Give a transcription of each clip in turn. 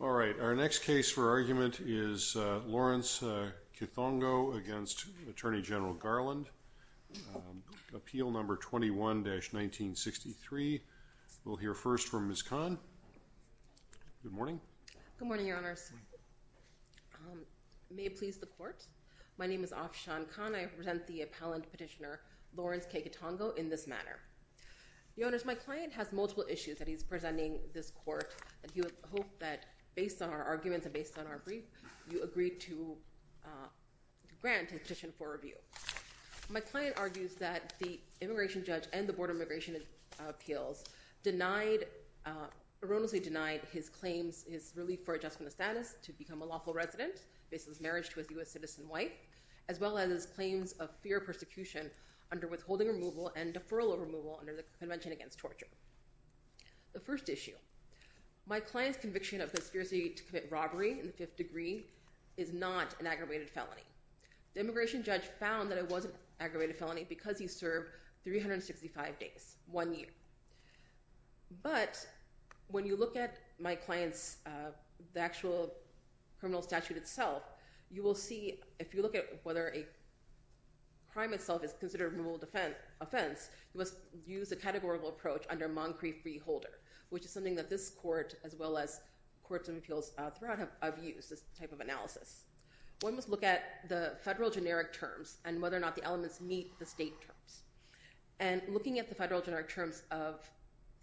All right, our next case for argument is Lawrence Kithongo against Attorney General Garland, appeal number 21-1963. We'll hear first from Ms. Kahn. Good morning. Good morning, Your Honors. May it please the court, my name is Afshan Kahn. I represent the appellant petitioner Lawrence K. Kithongo in this matter. Your Honors, my client has multiple issues that he's presenting this court and he would hope that based on our arguments and based on our brief you agree to grant a petition for review. My client argues that the immigration appeals denied, erroneously denied his claims, his relief for adjustment of status to become a lawful resident based on his marriage to a US citizen wife, as well as his claims of fear of persecution under withholding removal and deferral of removal under the Convention Against Torture. The first issue, my client's conviction of conspiracy to commit robbery in the fifth degree is not an aggravated felony. The immigration judge found that it was an aggravated felony because he served 365 days, one year. But when you look at my client's actual criminal statute itself, you will see if you look at whether a crime itself is considered a removal offense, it was used a categorical approach under Moncrieff v. Holder, which is something that this court as well as courts and appeals throughout have used this type of analysis. One must look at the federal generic terms and whether or not the elements meet the state terms. And looking at the federal generic terms of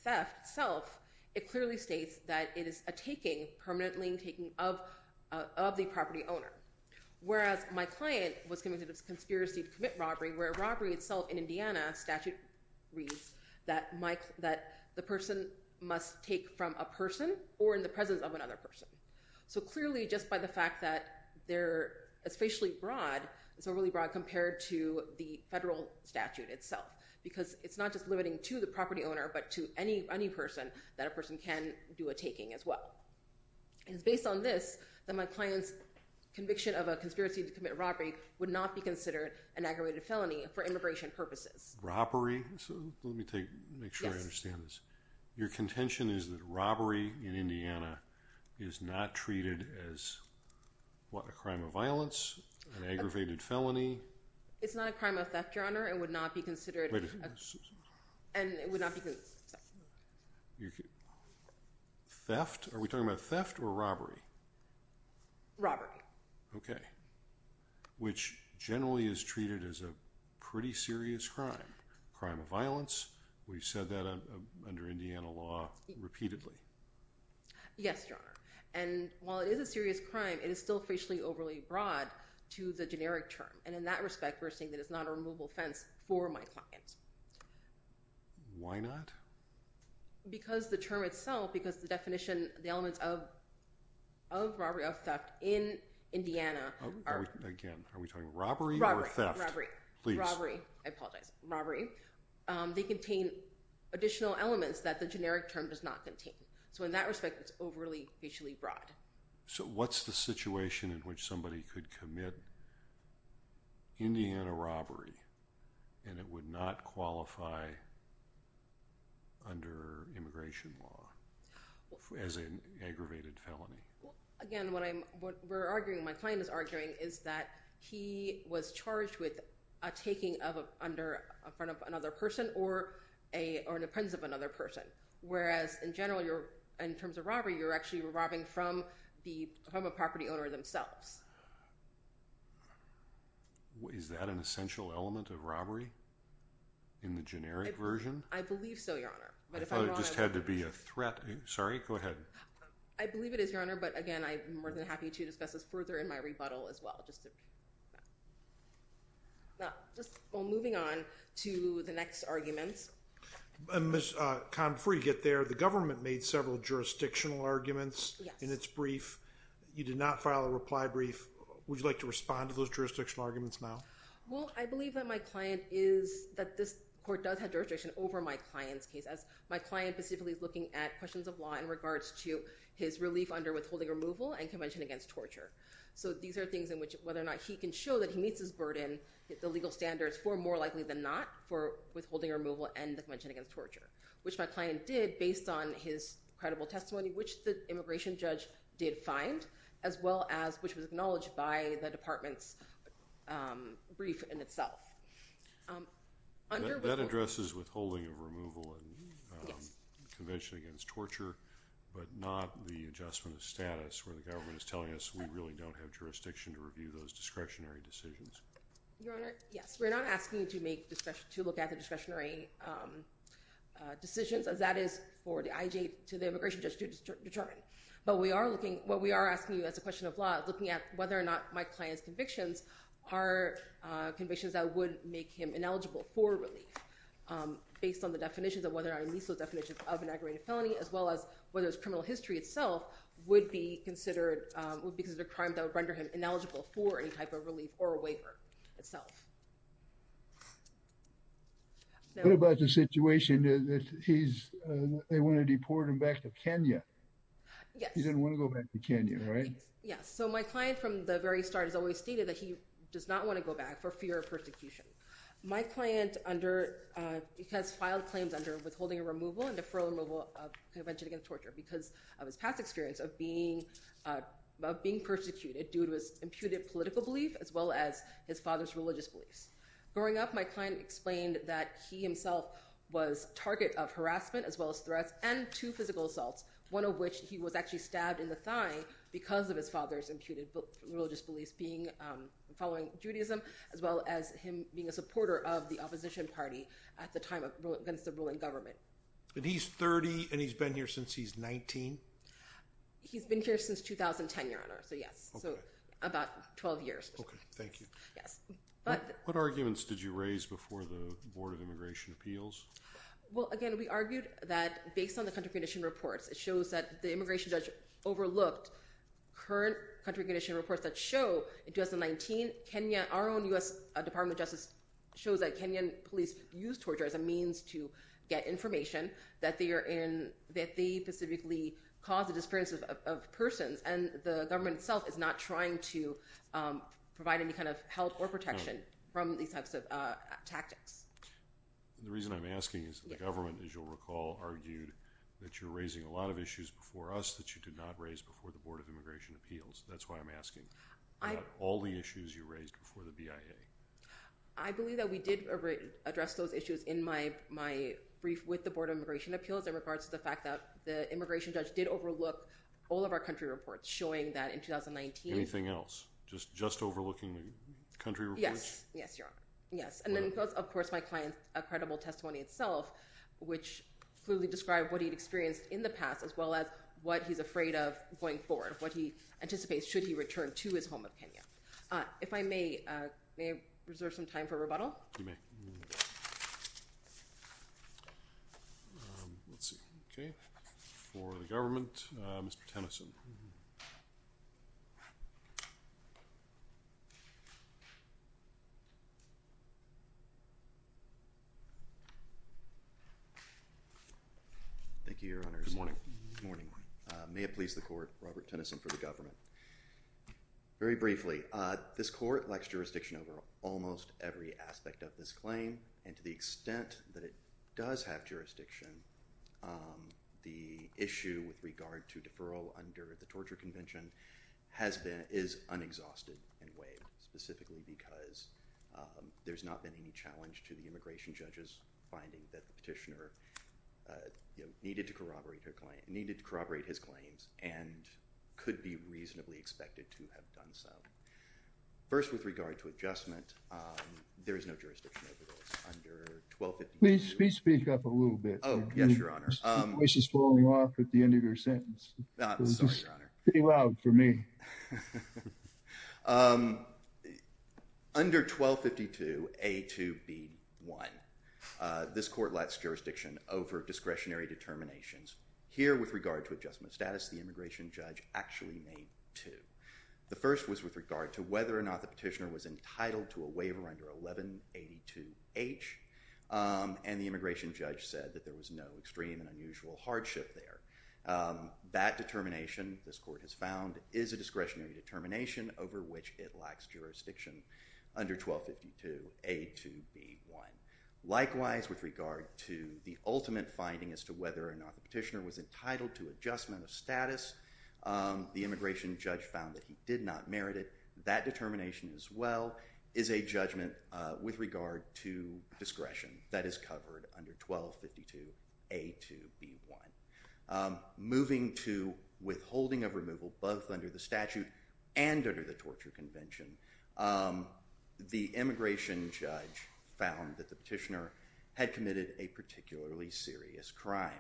theft itself, it clearly states that it is a taking, permanently taking, of the property owner. Whereas my client was convicted of conspiracy to commit robbery, where robbery itself in Indiana statute reads that the person must take from a person or in the presence of another person. So clearly just by the fact that they're especially broad, it's overly broad compared to the federal statute itself. Because it's not just limiting to the property owner, but to any person that a person can do a taking as well. And it's based on this that my client's conviction of a conspiracy to commit robbery would not be considered an aggravated felony for immigration purposes. Robbery? So let me make sure I understand this. Your contention is that robbery in Indiana is not treated as, what, a crime of violence? An aggravated felony? It's not a crime of theft, Your Honor. It would not be considered a theft. Are we talking about theft or robbery? Robbery. Okay. Which generally is treated as a pretty serious crime. Crime of violence. We've said that under Indiana law repeatedly. Yes, Your Honor. And while it is a serious crime, it is still facially overly broad to the generic term. And in that respect, we're saying that it's not a removable fence for my client. Why not? Because the term itself, because the definition, the elements of robbery, of theft, in Indiana. Again, are we talking robbery or theft? Robbery. I apologize. Robbery. They contain additional elements that the generic term does not contain. So in that situation in which somebody could commit Indiana robbery and it would not qualify under immigration law as an aggravated felony. Again, what I'm, what we're arguing, my client is arguing, is that he was charged with a taking of, under, in front of another person or a, or in the presence of another person. Whereas, in general, you're, in terms of robbery, you're actually robbing from the property owner themselves. Is that an essential element of robbery in the generic version? I believe so, Your Honor. I thought it just had to be a threat. Sorry, go ahead. I believe it is, Your Honor, but again, I'm more than happy to discuss this further in my rebuttal as well. Just, well, moving on to the next arguments. Ms. Khan, before you get there, the government made several jurisdictional arguments in its brief. You did not file a reply brief. Would you like to respond to those jurisdictional arguments now? Well, I believe that my client is, that this court does have jurisdiction over my client's case, as my client specifically is looking at questions of law in regards to his relief under withholding removal and Convention Against Torture. So these are things in which, whether or not he can show that he meets his burden, the legal standards, for more likely than not, for withholding removal and the Convention Against Torture, which my client, based on his credible testimony, which the immigration judge did find, as well as, which was acknowledged by the department's brief in itself. That addresses withholding of removal and Convention Against Torture, but not the adjustment of status where the government is telling us we really don't have jurisdiction to review those discretionary decisions. Your Honor, yes, we're not asking you to make, to look at the discretionary decisions, as that is for the IJ to the immigration judge to determine. But we are looking, what we are asking you as a question of law, looking at whether or not my client's convictions are convictions that would make him ineligible for relief, based on the definitions of whether or not he meets those definitions of an aggravated felony, as well as whether his criminal history itself would be considered, would be considered a crime that would render him ineligible for any type of they want to deport him back to Kenya. He didn't want to go back to Kenya, right? Yes, so my client from the very start has always stated that he does not want to go back for fear of persecution. My client under, because filed claims under withholding a removal and deferral removal of Convention Against Torture because of his past experience of being, of being persecuted due to his imputed political belief, as well as his father's religious beliefs. Growing up, my client explained that he himself was target of harassment, as well as threats, and two physical assaults, one of which he was actually stabbed in the thigh because of his father's imputed religious beliefs being, following Judaism, as well as him being a supporter of the opposition party at the time against the ruling government. And he's 30 and he's been here since he's 19? He's been here since 2010, your honor, so yes, so about 12 years. Okay, thank you. Yes, but. What arguments did you raise before the Board of Immigration Appeals? Well, again, we argued that based on the country condition reports, it shows that the immigration judge overlooked current country condition reports that show in 2019 Kenya, our own US Department of Justice, shows that Kenyan police use torture as a means to get information that they are in, that they specifically cause the disappearance of persons, and the government itself is not trying to provide any kind of help or protection from these types of tactics. The reason I'm asking is the government, as you'll recall, argued that you're raising a lot of issues before us that you did not raise before the Board of Immigration Appeals. That's why I'm asking. I have all the issues you raised before the BIA. I believe that we did address those issues in my my brief with the Board of Immigration Appeals in regards to the fact that the immigration judge did overlook all of our country reports showing that in 2019. Anything else, just overlooking the country reports? Yes, yes, Your Honour. Yes, and then, of course, my client's incredible testimony itself, which clearly described what he'd experienced in the past, as well as what he's afraid of going forward, what he anticipates should he return to his home of Kenya. If I may, may I reserve some time for rebuttal? You may. Let's see, okay. For the government, Mr. Tennyson. Thank you, Your Honour. Good morning. Good morning. May it please the Court, Robert Tennyson, for the government. Very briefly, this court lacks jurisdiction over almost every aspect of this claim, and to the extent that it does have jurisdiction, the issue with regard to deferral under the Torture Convention has been, is unexhausted and waived, specifically because there's not been any challenge to the immigration judge's finding that the petitioner needed to corroborate her claim, needed to corroborate his claims, and could be reasonably expected to have done so. First, with regard to adjustment, there is no jurisdiction over those under 1252. Please speak up a little bit. Oh, yes, Your Honour. Your voice is falling off at the end of your sentence. I'm sorry, Your Honour. It's pretty loud for me. Under 1252A2B1, this court lacks jurisdiction over discretionary determinations. Here, with regard to adjustment status, the immigration judge actually made two. The first was with regard to whether or not the petitioner was entitled to a waiver under 1182H, and the immigration judge said that there was no extreme and unusual hardship there. That determination, this court has found, is a discretionary determination over which it lacks jurisdiction under 1252A2B1. Likewise, with regard to the ultimate finding as to whether or not the petitioner was entitled to adjustment of status, the immigration judge found that he did not merit it. That determination, as well, is a judgment with regard to discretion that is covered under 1252A2B1. Moving to withholding of removal, both under the statute and under the Torture Convention, the immigration judge found that the petitioner had committed a particularly serious crime.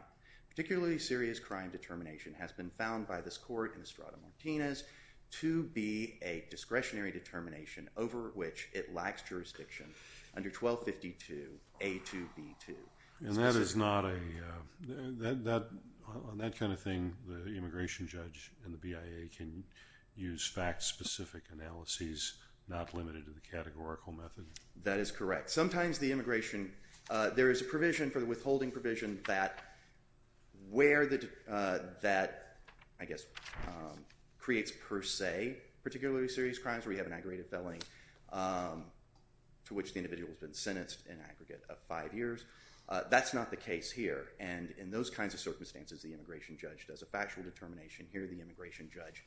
Particularly serious crime determination has been found by this court in Estrada-Martinez to be a discretionary determination over which it lacks jurisdiction under 1252A2B2. And that is not a, that, on that kind of thing, the immigration judge and the BIA can use fact-specific analyses, not limited to the categorical method? That is correct. Sometimes the immigration, there is a provision for the withholding provision that, where the, that, I guess, creates per se particularly serious crimes, where you have an aggregated felling to which the individual has been sentenced an aggregate of five years. That's not the case here. And in those kinds of circumstances, the immigration judge does a factual determination. Here, the immigration judge,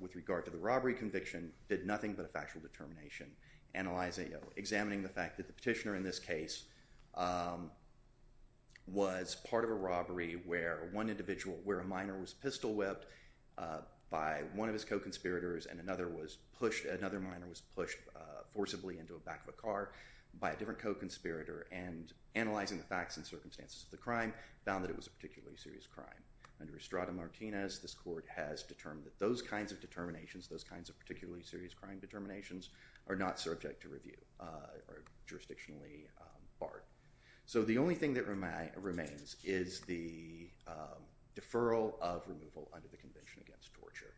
with regard to the robbery conviction, did nothing but a factual determination. Analyzing, examining the fact that the petitioner in this case was part of a robbery where one individual, where a minor was pistol-whipped by one of his co-conspirators and another was pushed, another minor was pushed forcibly into a back of a car by a different co-conspirator, and analyzing the facts and circumstances of the crime, found that it was a particularly serious crime. Under Estrada-Martinez, this court has determined that those kinds of determinations, those kinds of determinations, are jurisdictionally barred. So, the only thing that remains is the deferral of removal under the Convention Against Torture.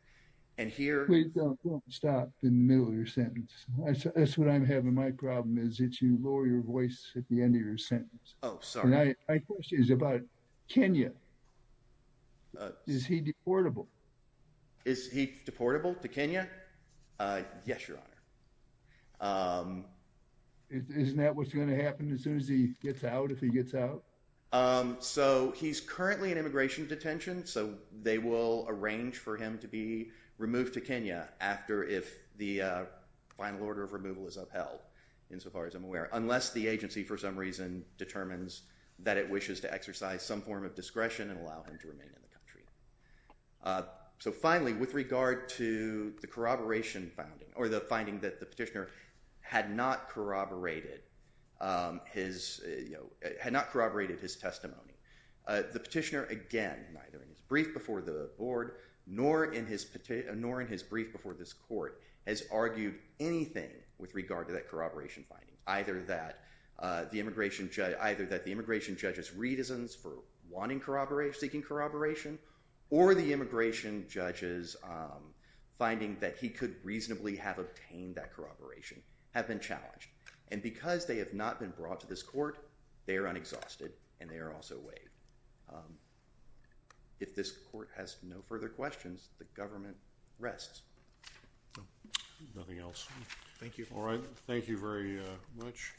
And here- Please don't stop in the middle of your sentence. That's what I'm having, my problem is that you lower your voice at the end of your sentence. Oh, sorry. My question is about Kenya. Is he deportable? Is he deportable to Kenya? Yes, Your Honor. Isn't that what's going to happen as soon as he gets out, if he gets out? So, he's currently in immigration detention, so they will arrange for him to be removed to Kenya after if the final order of removal is upheld, insofar as I'm aware, unless the agency for some reason determines that it wishes to So, finally, with regard to the corroboration finding, or the finding that the petitioner had not corroborated his, you know, had not corroborated his testimony, the petitioner, again, neither in his brief before the board, nor in his brief before this court, has argued anything with regard to that corroboration finding, either that the immigration judge, either that the immigration judge's reticence for wanting corroboration, seeking immigration judges, finding that he could reasonably have obtained that corroboration, have been challenged. And because they have not been brought to this court, they are unexhausted, and they are also waived. If this court has no further questions, the government rests. Nothing else. Thank you. All right. Thank you very much.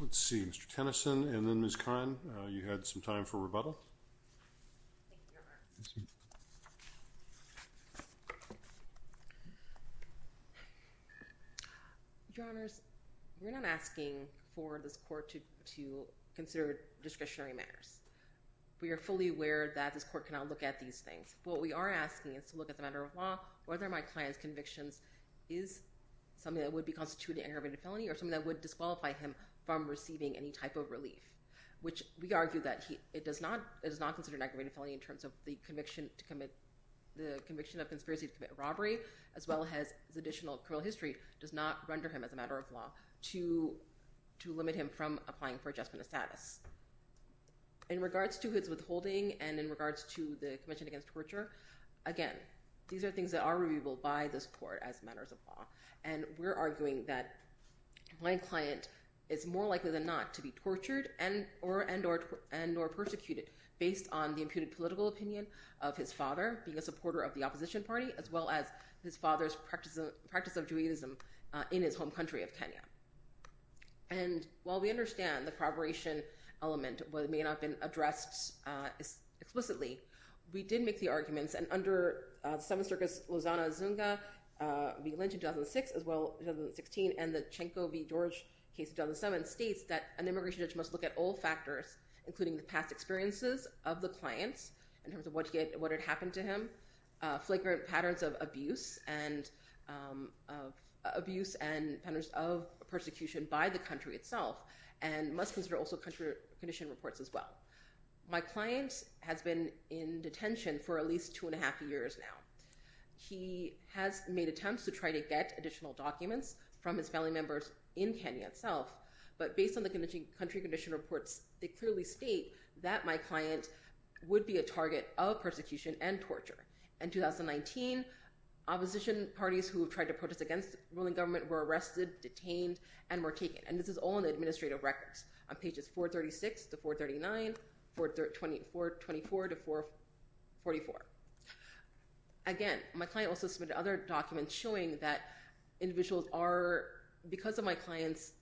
Let's see. Mr. Tennyson, and then Ms. Kine, you had some time for rebuttal. Your Honors, we're not asking for this court to consider discretionary matters. We are fully aware that this court cannot look at these things. What we are asking is to look at the matter of law, whether my client's convictions is something that would be constituted an aggravated felony or something that would disqualify him from receiving any type of relief, which we argue that it does not consider an aggravated felony in terms of the conviction to commit, the conviction of conspiracy to commit robbery, as well as his additional criminal history, does not render him as a matter of law to limit him from applying for adjustment of status. In regards to his withholding and in regards to the commission against torture, again, these are things that are not in the court as matters of law, and we're arguing that my client is more likely than not to be tortured and or persecuted based on the imputed political opinion of his father being a supporter of the opposition party, as well as his father's practice of Judaism in his home country of Kenya. And while we understand the corroboration element may not have been addressed explicitly, we did make the arguments, and under the Seventh Circus Lozano Zunga v. Lynch in 2006, as well as in 2016, and the Tchenko v. George case in 2007 states that an immigration judge must look at all factors, including the past experiences of the clients in terms of what had happened to him, flagrant patterns of abuse and patterns of persecution by the country itself, and must consider also country condition reports as well. My client has been in detention for at least two and a half years now. He has made attempts to try to get additional documents from his family members in Kenya itself, but based on the country condition reports, they clearly state that my client would be a target of persecution and torture. In 2019, opposition parties who tried to protest against ruling government were arrested, detained, and were taken, and this is all in the Again, my client also submitted other documents showing that individuals are, because of my client's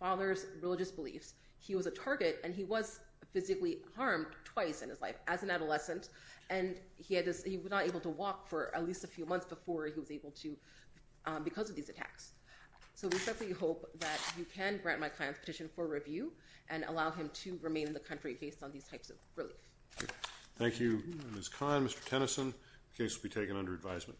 father's religious beliefs, he was a target and he was physically harmed twice in his life as an adolescent, and he was not able to walk for at least a few months before he was able to because of these attacks. So we certainly hope that you can grant my client's petition for review and allow him to remain in the country based on these types of relief. Thank you, Ms. The case will be taken under advisement.